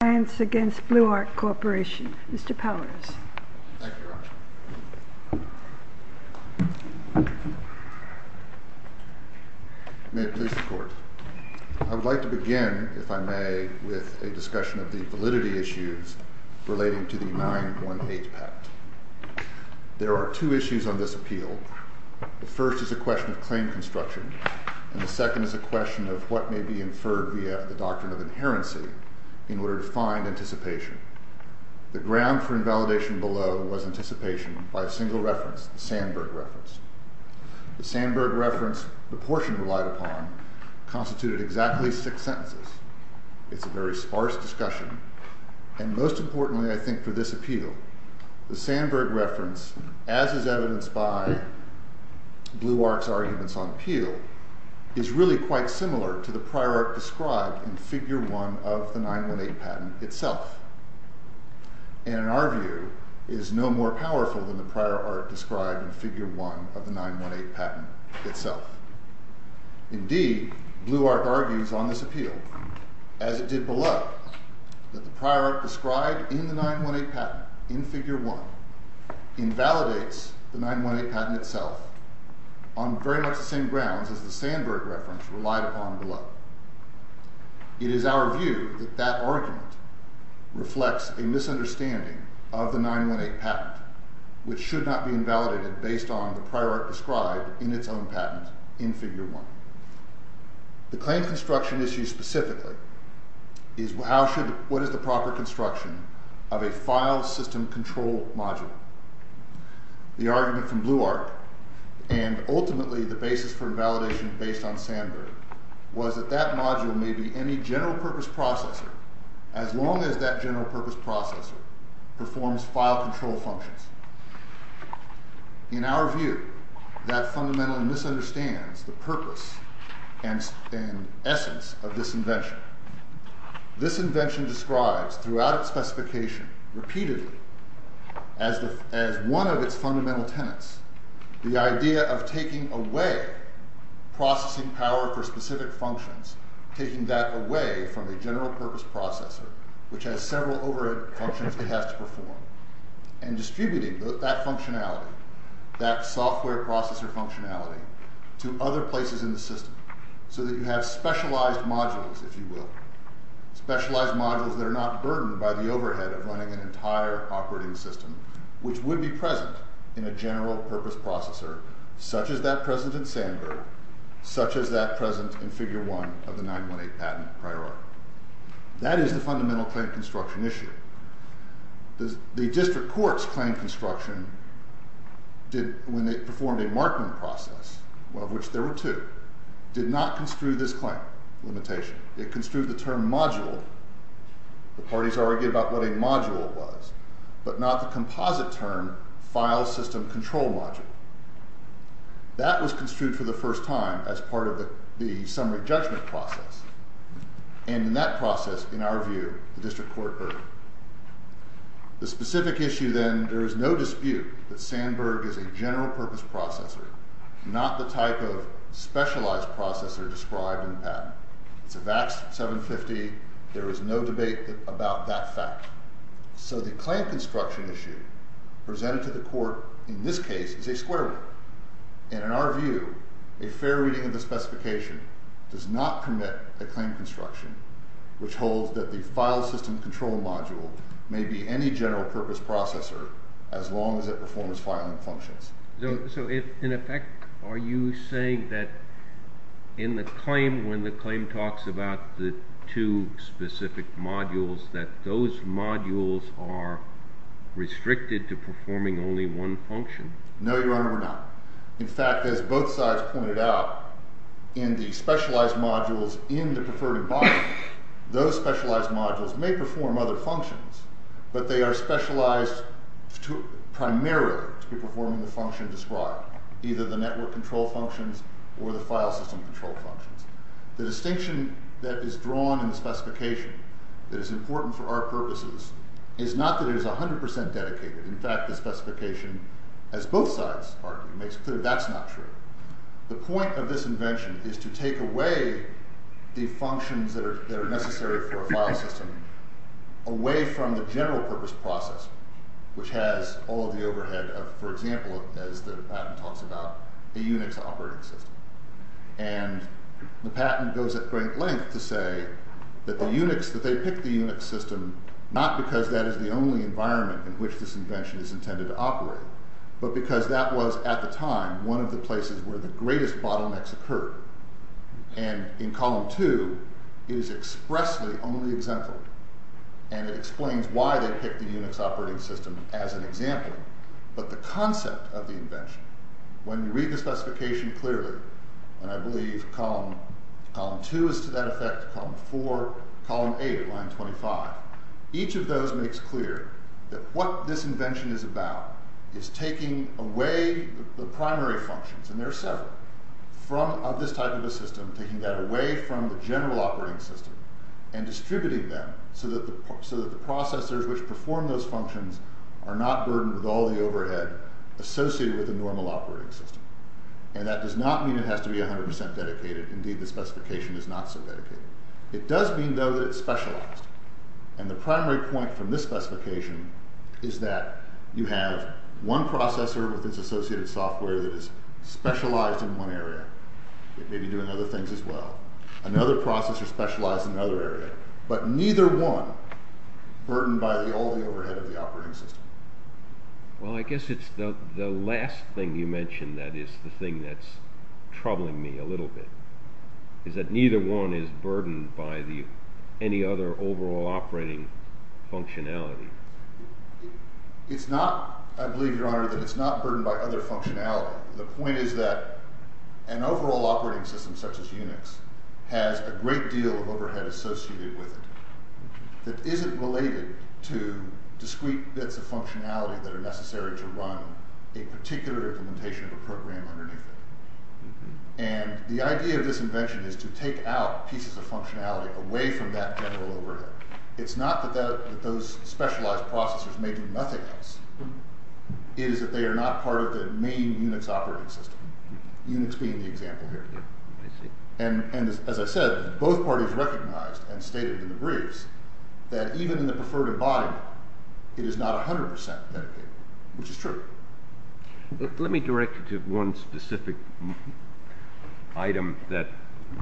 Mr. Powers. Thank you, Rochelle. May it please the Court, I would like to begin, if I may, with a discussion of the validity issues relating to the 918 Pact. There are two issues on this appeal. The first is a question of claim construction, and the second is a question of what may be inferred via the doctrine of inherency to find anticipation. The ground for invalidation below was anticipation by a single reference, the Sandberg Reference. The Sandberg Reference, the portion relied upon, constituted exactly six sentences. It's a very sparse discussion, and most importantly, I think, for this appeal, the Sandberg Reference, as is evidenced by Bluarch's arguments on appeal, is really quite similar to the prior art described in Figure 1 of the 918 Patent itself, and in our view, is no more powerful than the prior art described in Figure 1 of the 918 Patent itself. Indeed, Bluarch argues on this appeal, as it did below, that the prior art described in the 918 Patent, in Figure 1, invalidates the 918 Patent itself on very much the same grounds as the Sandberg Reference relied upon below. It is our view that that argument reflects a misunderstanding of the 918 Patent, which should not be invalidated based on the prior art described in its own patent in Figure 1. The claim construction issue specifically is what is the proper construction of a file system control module. The argument from Bluarch, and ultimately the basis for invalidation based on Sandberg, was that that module may be any general purpose processor as long as that general purpose processor performs file control functions. In our view, that fundamentally misunderstands the purpose and essence of this invention. This invention describes, throughout its specification, repeatedly, as one of its fundamental tenets, the idea of taking away processing power for specific functions, taking that away from a general purpose processor, which has several overhead functions it has to perform, and distributing that functionality, that software processor functionality, to other places in the system, so that you have specialized modules, if you will, specialized modules that are not burdened by the overhead of running an entire operating system, which would be present in a general purpose processor, such as that present in Sandberg, such as that present in Figure 1 of the 918 patent hierarchy. That is the fundamental claim construction issue. The district court's claim construction, when they performed a markman process, of which there were two, did not construe this claim limitation. It construed the term module. The parties argued about what a module was, but not the composite term, file system control module. That was construed for the first time as part of the summary judgment process, and in that process, in our view, the district court erred. The specific issue then, there is no dispute that Sandberg is a general purpose processor, not the type of specialized processor described in the patent. It's a VAX 750. There is no debate about that fact. So the claim construction issue, presented to the court in this case, is a square root, and in our view, a fair reading of the specification does not permit a claim construction which holds that the file system control module may be any general purpose processor as long as it performs filing functions. So if, in effect, are you saying that in the claim, when the claim talks about the two specific modules, that those modules are restricted to performing only one function? No, Your Honor, we're not. In fact, as both sides pointed out, in the specialized modules in the preferred environment, those specialized modules may perform other functions, but they are specialized primarily to be performing the function described, either the network control functions or the file system control functions. The distinction that is drawn in the specification that is important for our purposes is not that it is 100% dedicated. In fact, the specification as both sides argue makes clear that's not true. The point of this invention is to take away the functions that are necessary for a file system away from the general purpose process which has all of the overhead of, for example, as the patent talks about, a Unix operating system. And the patent goes at great length to say that the Unix, that they picked the Unix system not because this invention is intended to operate, but because that was, at the time, one of the places where the greatest bottlenecks occurred. And in Column 2, it is expressly only exemplary. And it explains why they picked the Unix operating system as an example. But the concept of the invention, when you read the specification clearly, and I believe Column 2 is to that effect, Column 4, Column 8, Line 25, each of those makes clear that what the invention is about is taking away the primary functions, and there are several, of this type of a system, taking that away from the general operating system and distributing them so that the processors which perform those functions are not burdened with all the overhead associated with a normal operating system. And that does not mean it has to be 100% dedicated. Indeed, the specification is not so dedicated. It does mean, though, that you have one processor with its associated software that is specialized in one area. It may be doing other things as well. Another processor specialized in another area. But neither one burdened by all the overhead of the operating system. Well, I guess it's the last thing you mentioned that is the thing that's troubling me a little bit, is that neither one is burdened by any other overall operating functionality. It's not, I believe, Your Honor, that it's not burdened by other functionality. The point is that an overall operating system, such as Unix, has a great deal of overhead associated with it that isn't related to discrete bits of functionality that are necessary to run a particular implementation of a program underneath it. And the idea of this invention is to take out pieces of functionality away from that general overhead. It's not that those specialized processors may do nothing else. It is that they are not part of the main Unix operating system, Unix being the example here. And as I said, both parties recognized and stated in the briefs that even in the preferred embodiment, it is not 100 percent which is true. Let me direct you to one specific item that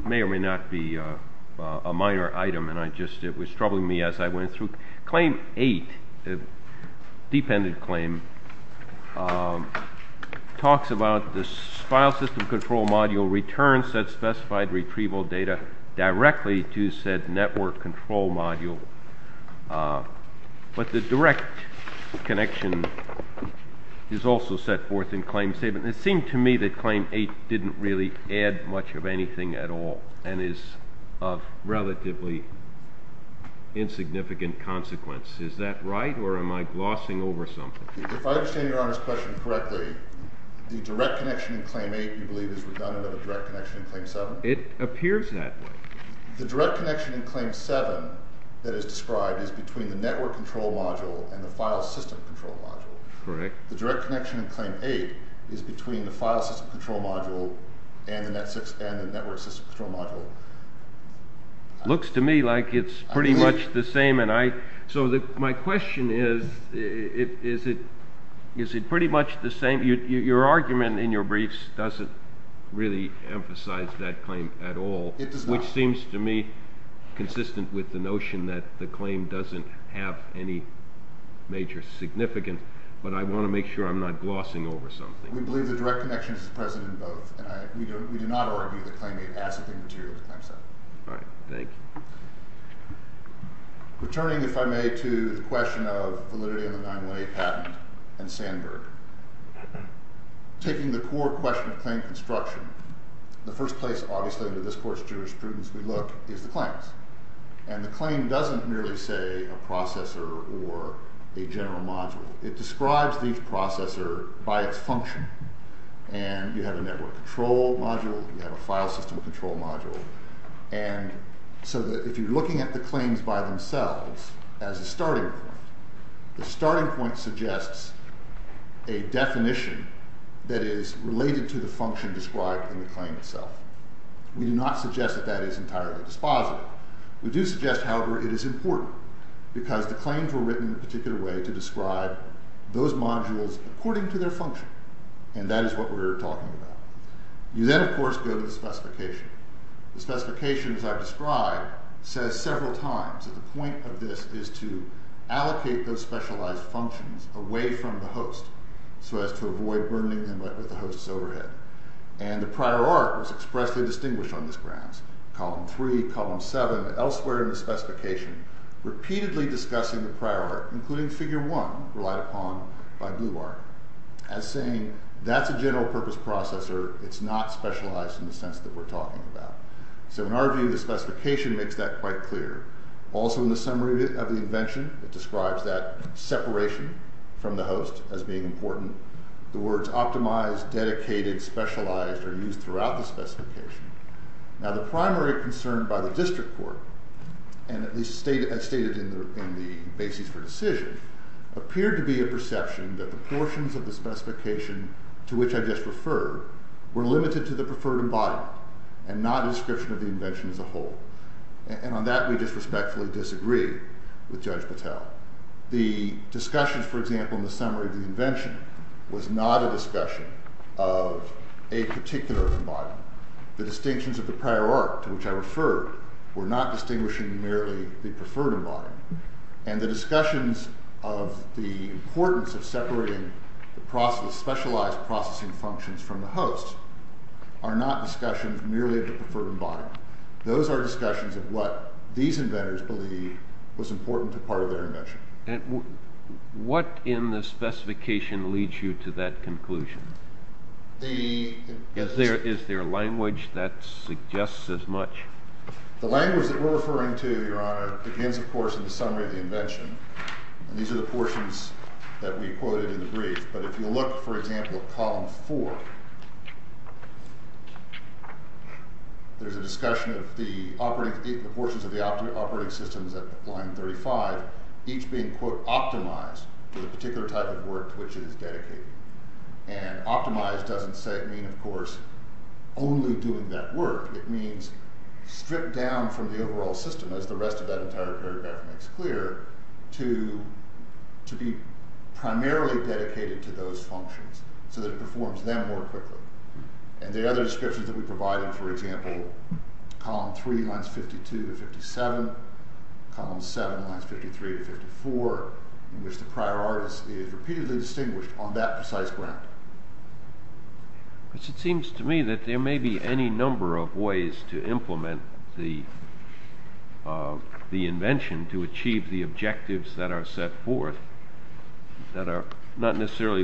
may or may not be a minor item and it was troubling me as I went through. Claim 8, a deep-ended claim, talks about the file system control module returns that specified retrieval data directly to said network control module. But the direct connection is also set forth in claim statement. It seemed to me that claim 8 didn't really add much in terms of relatively insignificant consequence. Is that right or am I glossing over something? If I understand Your Honor's question correctly, the direct connection in claim 8, you believe, is redundant of the direct connection in claim 7? It appears that way. The direct connection in claim 7 that is described is between the network control module and the file system control module. Correct. The direct connection in claim 8 is between the file system control module and the network system control module. Looks to me like it's pretty much the same. So my question is is it pretty much the same? Your argument in your briefs doesn't really emphasize that claim at all. It does not. Which seems to me consistent with the notion that the claim doesn't have any major significance. But I want to make sure that I'm not glossing over something. We believe the direct connection is present in both. We do not argue that claim 8 has any material in claim 7. All right. Thank you. Returning, if I may, to the question of validity in the 918 patent and Sandberg. Taking the core question of claim construction, the first place obviously under this Court's jurisprudence we look is the claims. And the claim doesn't merely say a processor or a general module. It describes the processor by its function. And you have a network control module, you have a file system control module. And so that if you're looking at the claims by themselves as a starting point, the starting point suggests a definition that is related to the function described in the claim itself. We do not go to the specification because the claims were written in a particular way to describe those modules their function. And that is what we're talking about. You then, of course, go to the specification. The specification, as I've described, says several times that the point of this is to allocate those specialized functions away from the host so as to avoid burning them with the host's overhead. And the prior arc was expressly distinguished on this grounds. Column 3, column 7, elsewhere in the specification repeatedly discussing the prior arc, including figure 1 relied upon by BlueArc, as saying that's a general purpose processor, it's not specialized in the sense that we're talking about. So in our view, the specification makes that quite clear. Also, in the summary of the invention, it describes that separation from the host as being important. The words optimized, dedicated, specialized are used throughout the specification. Now, the primary concern by the district court, and at least stated in the basis for decision, appeared to be a perception that the portions of the specification to which I just referred were limited to the preferred embodiment, and not description of the invention as a whole. And on that we just respectfully disagree with Judge Patel. The discussions, for example, in the summary of the invention was not a discussion of a particular embodiment. The distinctions of the prior art to which I referred were not distinguishing merely the preferred embodiment, and the discussions of the importance of separating the process, specialized processing functions from the host are not discussions merely of the preferred embodiment. Those are discussions of what these inventors believe was important to part of their invention. And what in the specification leads you to that conclusion? Is there a language that suggests as much? The language that we're referring to, Your Honor, begins, of course, in the summary of the invention. And these are the portions that we quoted in the brief. But if you look, for example, at column four, there's a discussion of the portions of the operating systems at line thirty-five, each being, quote, optimized for type of work to which it is dedicated. And optimized doesn't mean, of course, only doing that work. It means stripped down from the overall system, as the rest of that entire paragraph makes clear, to be primarily dedicated to those functions so that it is not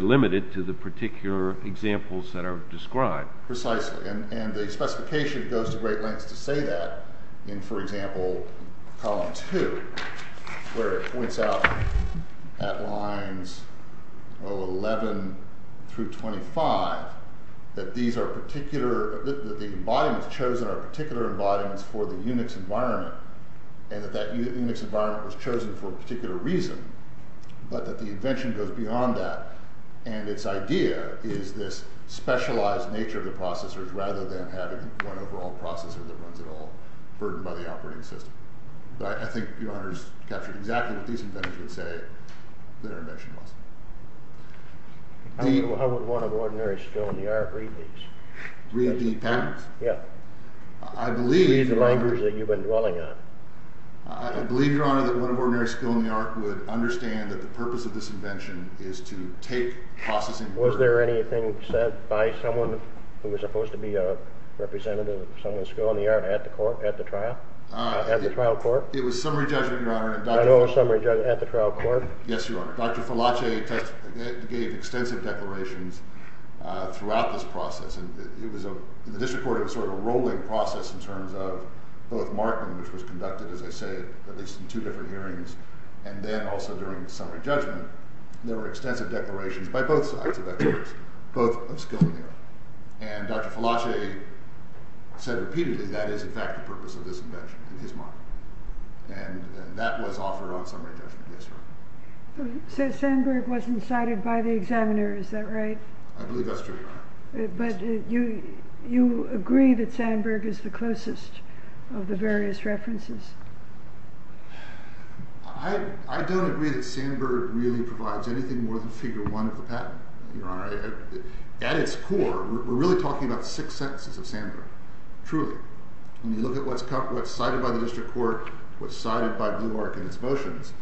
limited to the particular examples trying to do. We're trying to do that in a way that is not limited to the particular examples that are described. And the specification goes to to say that in, for example, column two, where it points out at lines eleven through twenty-five that these are particular, that the embodiments chosen are particular embodiments for the Unix environment and that that Unix environment was chosen for a particular reason, but that the invention goes beyond that, and its idea is this specialized nature of the processors rather than having one overall processor that runs it all burdened by the operating system. But I think Your Honor's captured exactly what these inventors would say that their invention was. How would one of ordinary skill in the art process understand that the purpose of this invention is to take processing burden. Was there anything said by someone who was supposed to be a representative of someone's skill in the art at the trial? At the trial court? It was said that during summary judgment there were extensive declarations by both sides of experts, both of skill in the art. And Dr. Falasche said repeatedly that is in fact the purpose of this invention in his mind. And that was offered on summary judgment. Yes, Your Honor. So Sandberg wasn't cited by the examiner, is that right? I believe that's true, Your Honor. But you agree that Sandberg is the closest of the various references? I don't agree that Sandberg really more than figure one of the patent, Your Honor. At its core we're really talking about six sentences of Sandberg, truly. When you look at what's cited by the district court, what's cited by Blue Arc in its motions,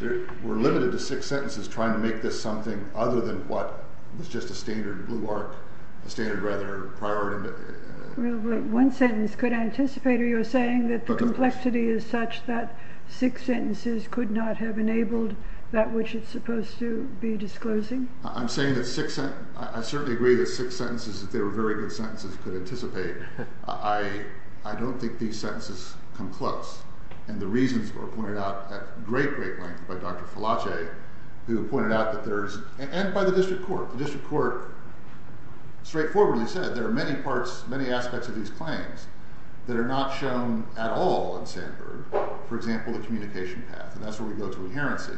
we're limited to six sentences trying to make this something other than what was just a standard Blue standard rather priority. One sentence could anticipate or you're saying that the complexity is such that six sentences could not have enabled that which it's supposed to be disclosing? I'm saying that six sentences, I certainly agree that six sentences if they were very good sentences could anticipate. I don't think these sentences come close. And the reasons were pointed out at great great length by Dr. Falace who pointed out that there's and by the district court, the district court straightforwardly said there are many parts, many aspects of these claims that are not shown at all in Sandburg, for example, the communication path. And that's where we go to inherency.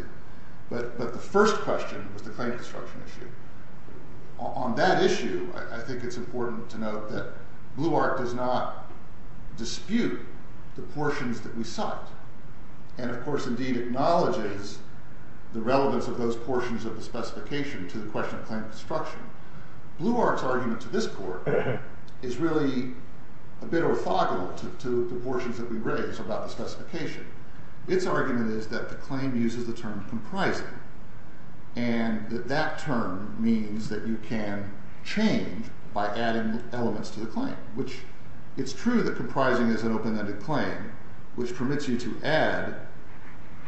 But the first question was the claim construction issue. On that issue, I think it's important to note that Blue Art does not dispute the portions that we cite. And of course indeed acknowledges the relevance of those portions of the specification to the question of claim construction. Blue Art's argument to this court is really a bit orthogonal to the portions that we raise about the specification. Its argument is that the claim uses the term comprising. And that term means that you can change by adding elements to the claim, which it's true that comprising is an open-ended claim, which permits you to add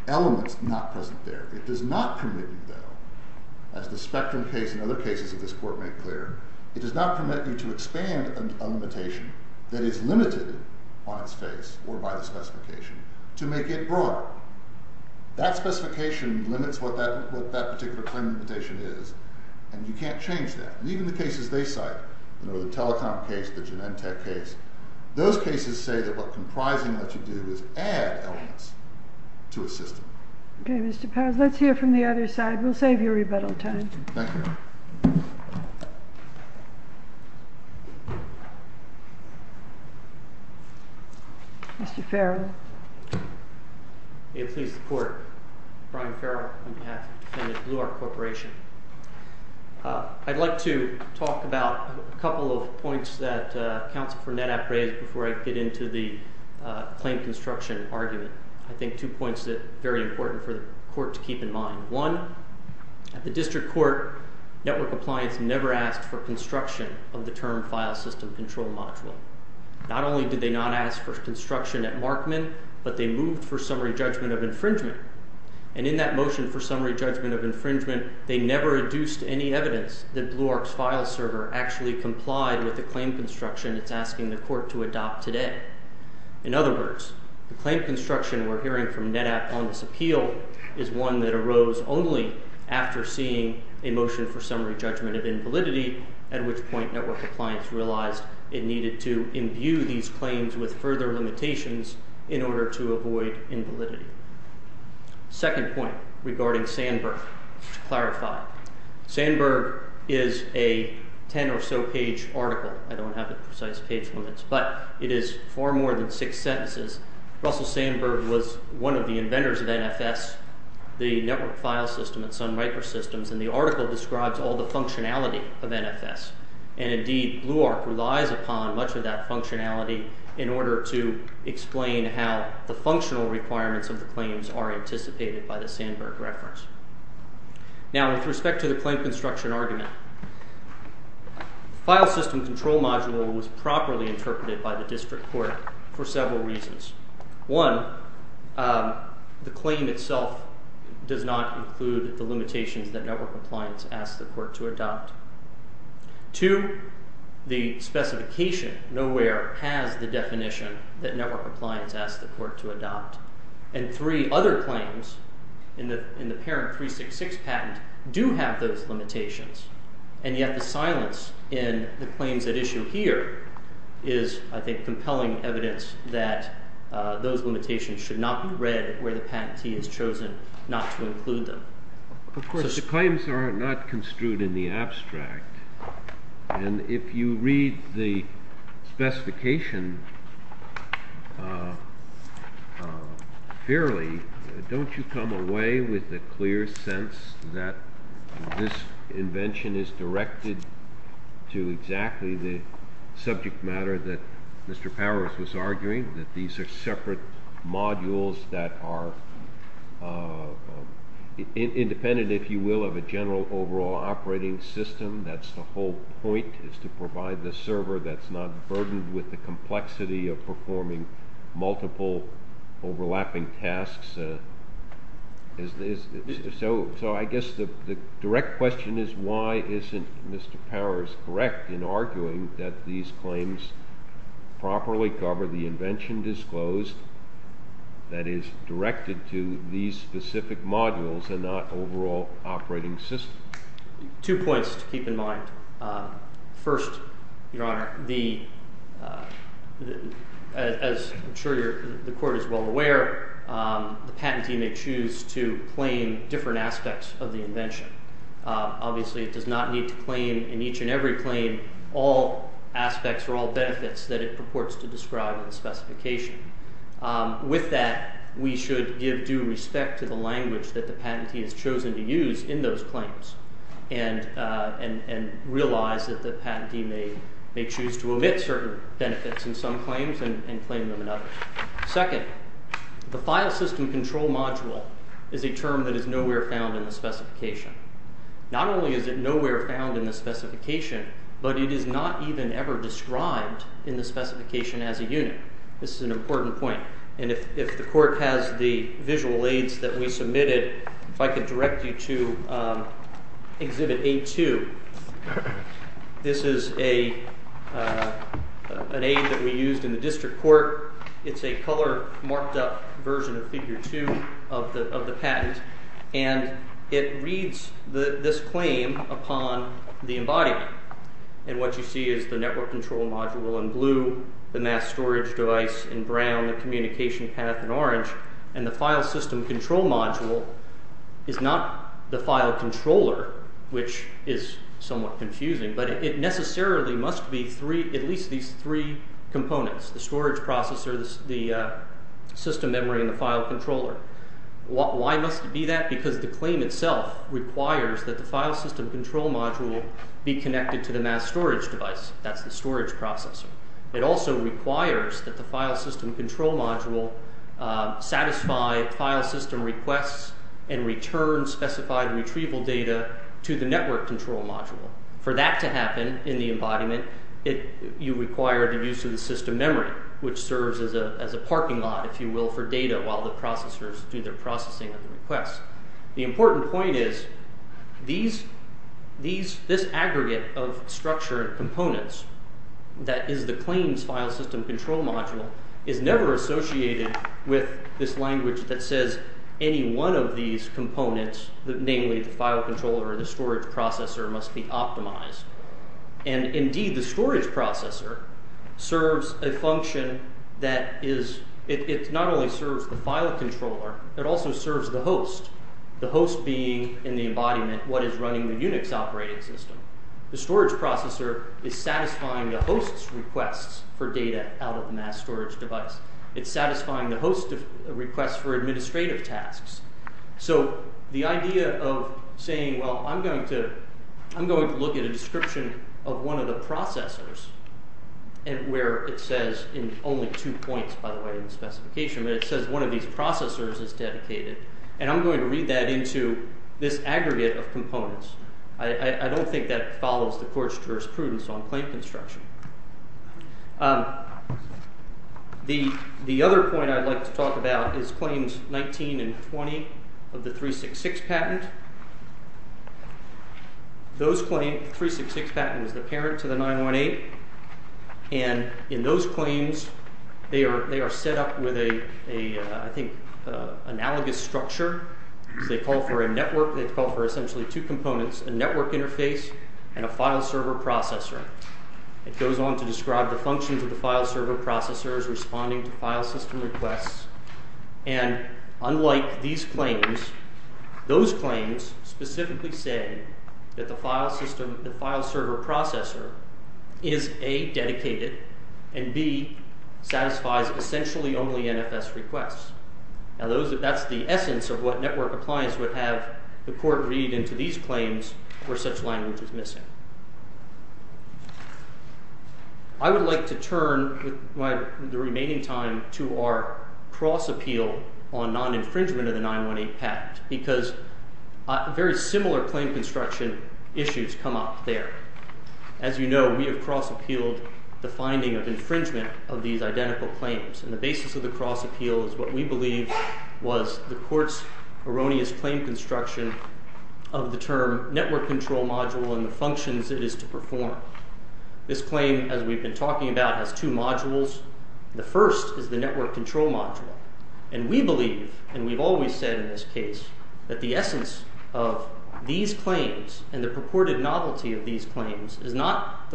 elements not present there. It does not permit you though, as the Spectrum case and other cases of this court make clear, it does not permit you to expand a limitation that is limited on its face or by the specification to make it broad. That specification limits what that particular claim limitation is, and you can't change that. And even the cases they cite, the Telecom case, the Genentech case, those cases say that what comprising lets you do is add elements to a system. Okay, Mr. Powers, let's hear from the other side. We'll save your rebuttal time. Thank you. Mr. Farrell. May it please the court, Brian Farrell on behalf of the defendant Blue Art Corporation. I'd like to talk about a couple of points that counsel Furnett appraised before I get into the claim construction argument. I think two points that are very important for the court to keep in mind. One, at the district court, network compliance never asked for construction of the term file system control module. Not only did they not ask for construction at Markman but they moved for summary judgment of invalidity at which point network compliance realized it needed to imbue these claims with further limitations in order to avoid invalidity. Second point regarding Sandberg. To clarify, Sandberg is a ten or so page article. I don't have the precise page limits but it is far more than six sentences. Russell Sandberg was one of the inventors of NFS, the network file system at Sun Microsystems and the article describes all the functionality of NFS. And indeed BLUARC relies upon much of that functionality in order to explain how the functional requirements of the claims are anticipated by the Sandberg reference. Now, with respect to the claim construction argument, file system control module was properly interpreted by the district court for several reasons. One, the claim itself does not include the limitations that network compliance asked the court to adopt. Two, the specification nowhere has the definition that network compliance should not be read where the patentee has chosen not to include them. Of course, the claims are not construed in the abstract, and if you read the specification fairly, don't you come away with a clear sense that this invention is not going to be implemented in the way that the district court had intended be implemented. So, I guess the direct question is, why isn't Mr. Powers correct in all of his arguments that these claims properly cover the invention disclosed that is directed to these specific modules and not overall operating system? Two points to keep in mind. First, Your Honor, as I'm sure the Court is well aware, the patentee may choose to claim different aspects of the invention. Obviously, it does not need to claim in each and every claim all aspects or all benefits that it purports to describe in the specification. With that, we should give due respect to the language that the patentee has chosen to use in those claims and realize that the patentee may choose to omit certain benefits in some claims and claim them in others. Second, the file system control module is a term that is nowhere found in the specification. Not only is it nowhere found in the specification, but it is not even ever described in the specification as a unit. This is an important point. If the court has the that we submitted, I can direct you to exhibit A2. This is an aid that we used in the district court. It is a color marked up version of the patent. It reads this upon the embodiment. What you see is the network control module in blue, the mass storage device in brown, and the file system control module is not the file controller, which is somewhat confusing, but it necessarily must be at least these three components, the storage processor, the system memory, and the file controller. Why must it be that? Because the claim itself requires that the file system control module be connected to the mass storage device, that's the storage processor. It also requires that the file system control module satisfy file system requests and return specified retrieval data to the network control module. For that to happen in the embodiment, you require the use of system memory, which serves as a parking lot, if you will, for data while the processors do their processing of the requests. The important thing the storage processor is associated with this language that says any one of these components, namely the file controller or the storage processor, must be optimized. And indeed, the storage processor serves a function that is, it not only serves the file controller, it also serves the host, the host being in the embodiment, what is running the Unix operating system. The storage processor is satisfying the host's requests for data out of the Unix system. I'm going to read that into this aggregate of components. I don't think that follows the Court's jurisprudence on claim construction. The other point I'd like to talk about is claims 19 and 20 of the 366 patent. Those claims, the claims are set up with an analogous structure. They call for a network, essentially two components, a network interface and a file server processor. It goes on to describe the functions of the file server processor is, A, dedicated and, B, satisfies essentially only NFS requests. That's the essence of what network appliance would have the Court read into these claims where such language is missing. I would like to say that the essence purported novelty of these claims is that the essence of these claims is that the essence of these claims is not the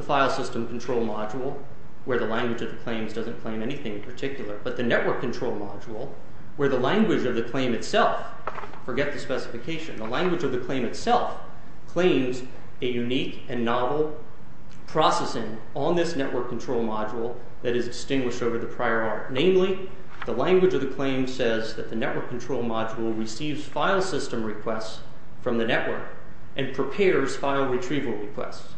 file system control module where the language of the claims doesn't claim anything in particular but the network control module where the language of the claim itself claims a unique and novel processing on this network control module that is distinguished over the prior art. Namely, the language of the claim says that the network control module receives file system requests from the network and prepares file retrieval requests.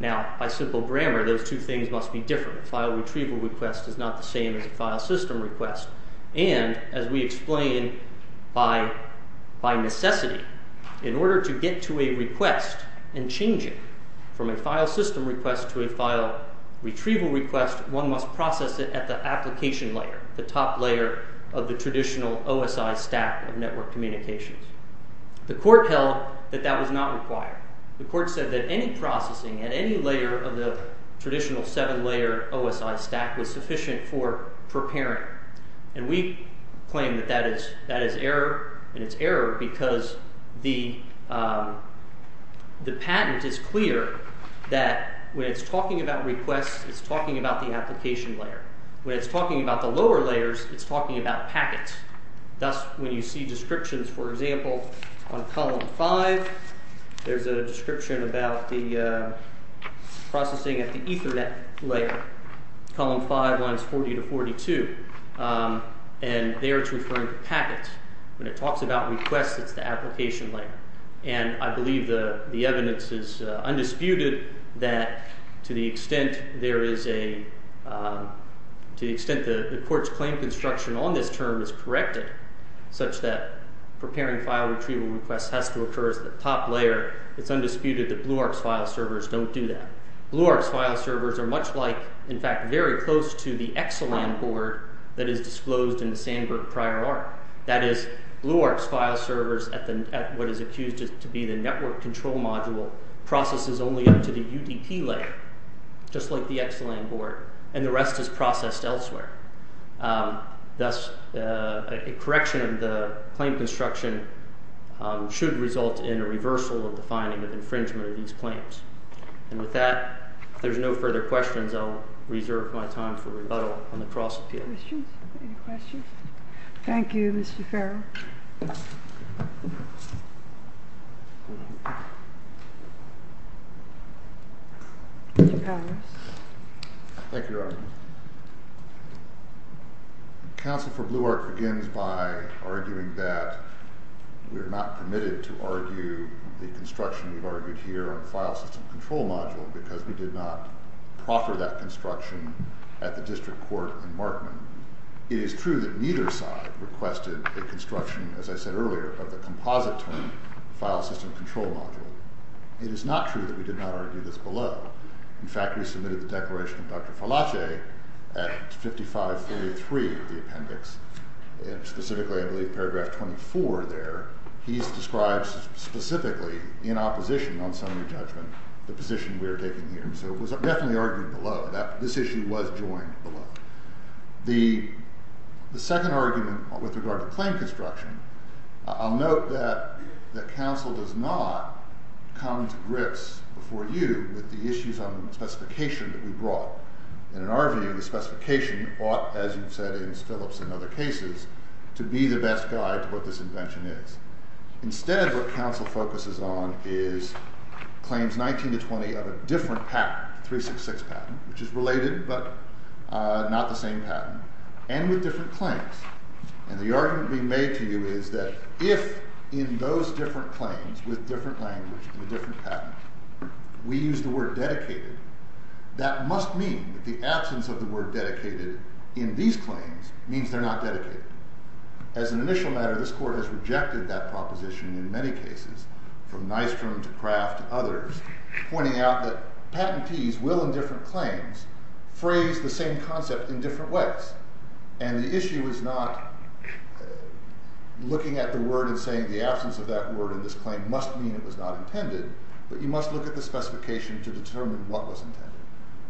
Now, by simple grammar, those two things must be different. A file retrieval request is not the same as a file system request. And, as we explain, by necessity, in order to get to a request and change it from a file system request to a file retrieval request, one must process it at the application layer, the top layer of the traditional OSI stack of network communications. The court held that that was not required. The court said that any request must be processed at the application layer. Now, the patent is clear that when it's talking about requests, it's talking about the application layer. When it's talking about the lower layers, it's application layer. You see descriptions, for example, on column 5, there's a description about the processing at the Ethernet layer, column 5 lines 40 to 42, and there it's referring to packets. When it talks about requests, it's the application layer, and I believe the evidence is undisputed that to the extent there is a to the extent the court's claim construction on this term is corrected, such that preparing file retrieval request has to occur at the top layer, it's undisputed that BlueArk's file servers don't do that. BlueArk's file servers are much like, in fact, very close to the Exelam board that is disclosed in the Sandbrook prior arc. That is, BlueArk's file servers at what is accused to be the network control module processes only up to the UDP layer, just like the Exelam board, and the rest is processed elsewhere. Thus, a correction of the claim construction should result in a reversal of the finding of infringement of these claims. And with that, if there's no further questions, I'll reserve my time for rebuttal on appeal. Any questions? Thank you, Mr. Farrell. Mr. Powers. Thank you, Your Honor. Counsel for BlueArk begins by arguing that we are not permitted to argue the construction of the file system control module because we did not proffer that construction at the district court in Markman. It is true that neither side requested a construction, as I said earlier, of the composite term file system control module. It is not true that we did not argue this below. In fact, we submitted the declaration of Dr. Falace at 5543 of the appendix, and specifically, I believe, paragraph 24 there, he's described specifically in opposition on summary judgment the position we are taking here. So it was definitely argued below. This issue was joined below. The second argument with regard to claim construction, I'll note that counsel does not come to grips before you with the issues on the specification that we brought. In our view, the specification ought to be the best guide to what this invention is. Instead, what counsel focuses on is claims 19 to 20 of a different patent, 366 patent, which is related, but not the same patent, and with different claims. And the argument being made to you is that if in those different claims with different language and different patent, we use the word patent, then we should look at the specification to determine what was intended.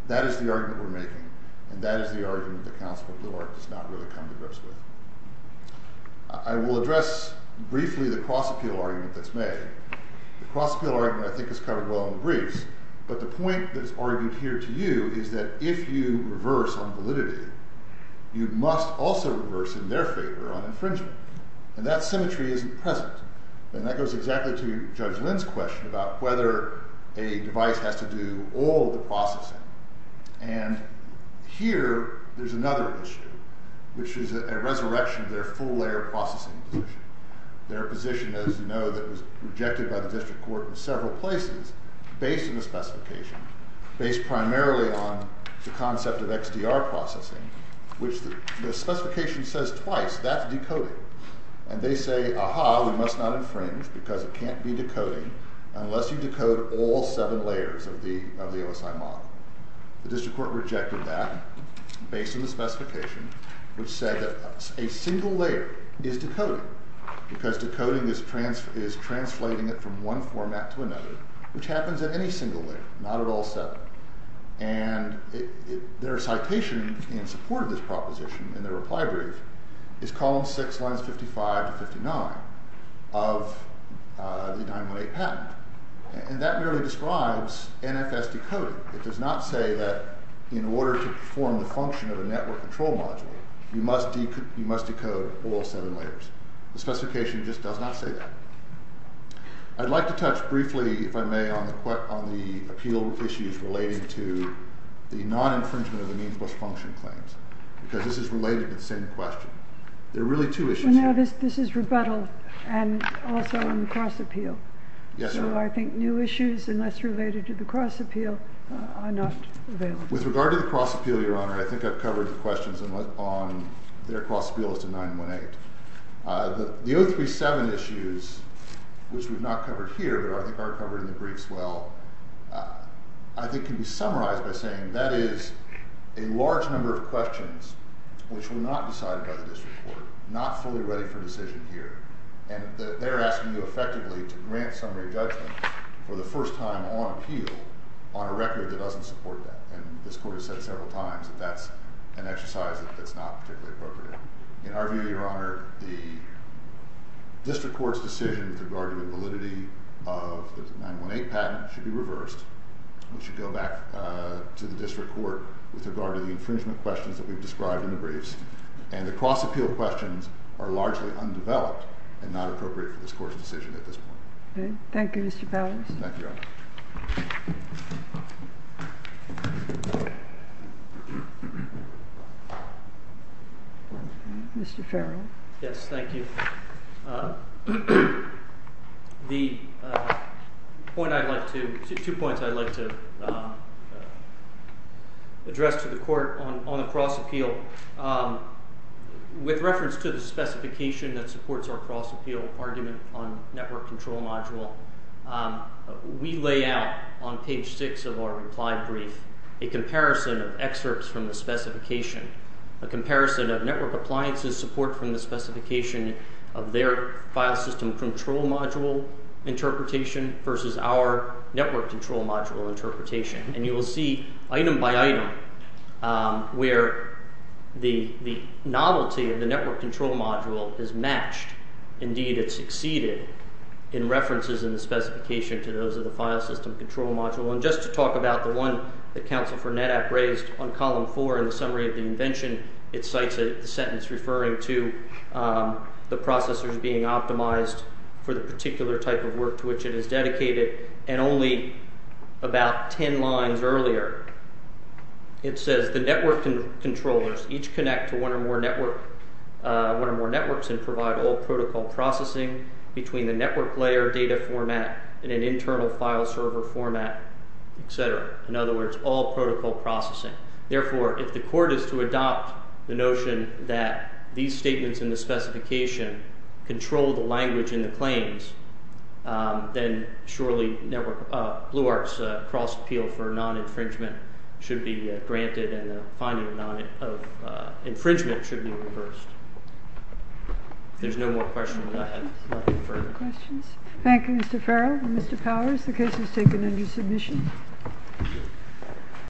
That is the argument we're making, and that is the argument that counsel does not come to grips with. I will address briefly the cross-appeal argument that supports our cross-appeal argument on network control module. We lay out on page 6 of our reply brief of excerpts from the specification, a comparison of network appliances support from the specification of their file system control module, and a comparison file system control module interpretation versus our network control interpretation. And you will see item by item where the novelty of the network control module is matched. Indeed, it succeeded in references in the specification to those of the file system control module. And just to talk about the one that Council for NetApp raised on column 4 in the summary of the invention, it cites a sentence referring to the processors being optimized for the particular type of work to which it is dedicated. And only about 10 lines earlier, it says the network controllers connect to one or more networks and provide all protocol processing between the network layer data format and an internal file server format, etc. In other words, all protocol processing. Therefore, if the Court is to adopt the notion that these statements in the specification control the language in the claims, then surely Blue Arc's cross-appeal for the case is taken under submission. Thank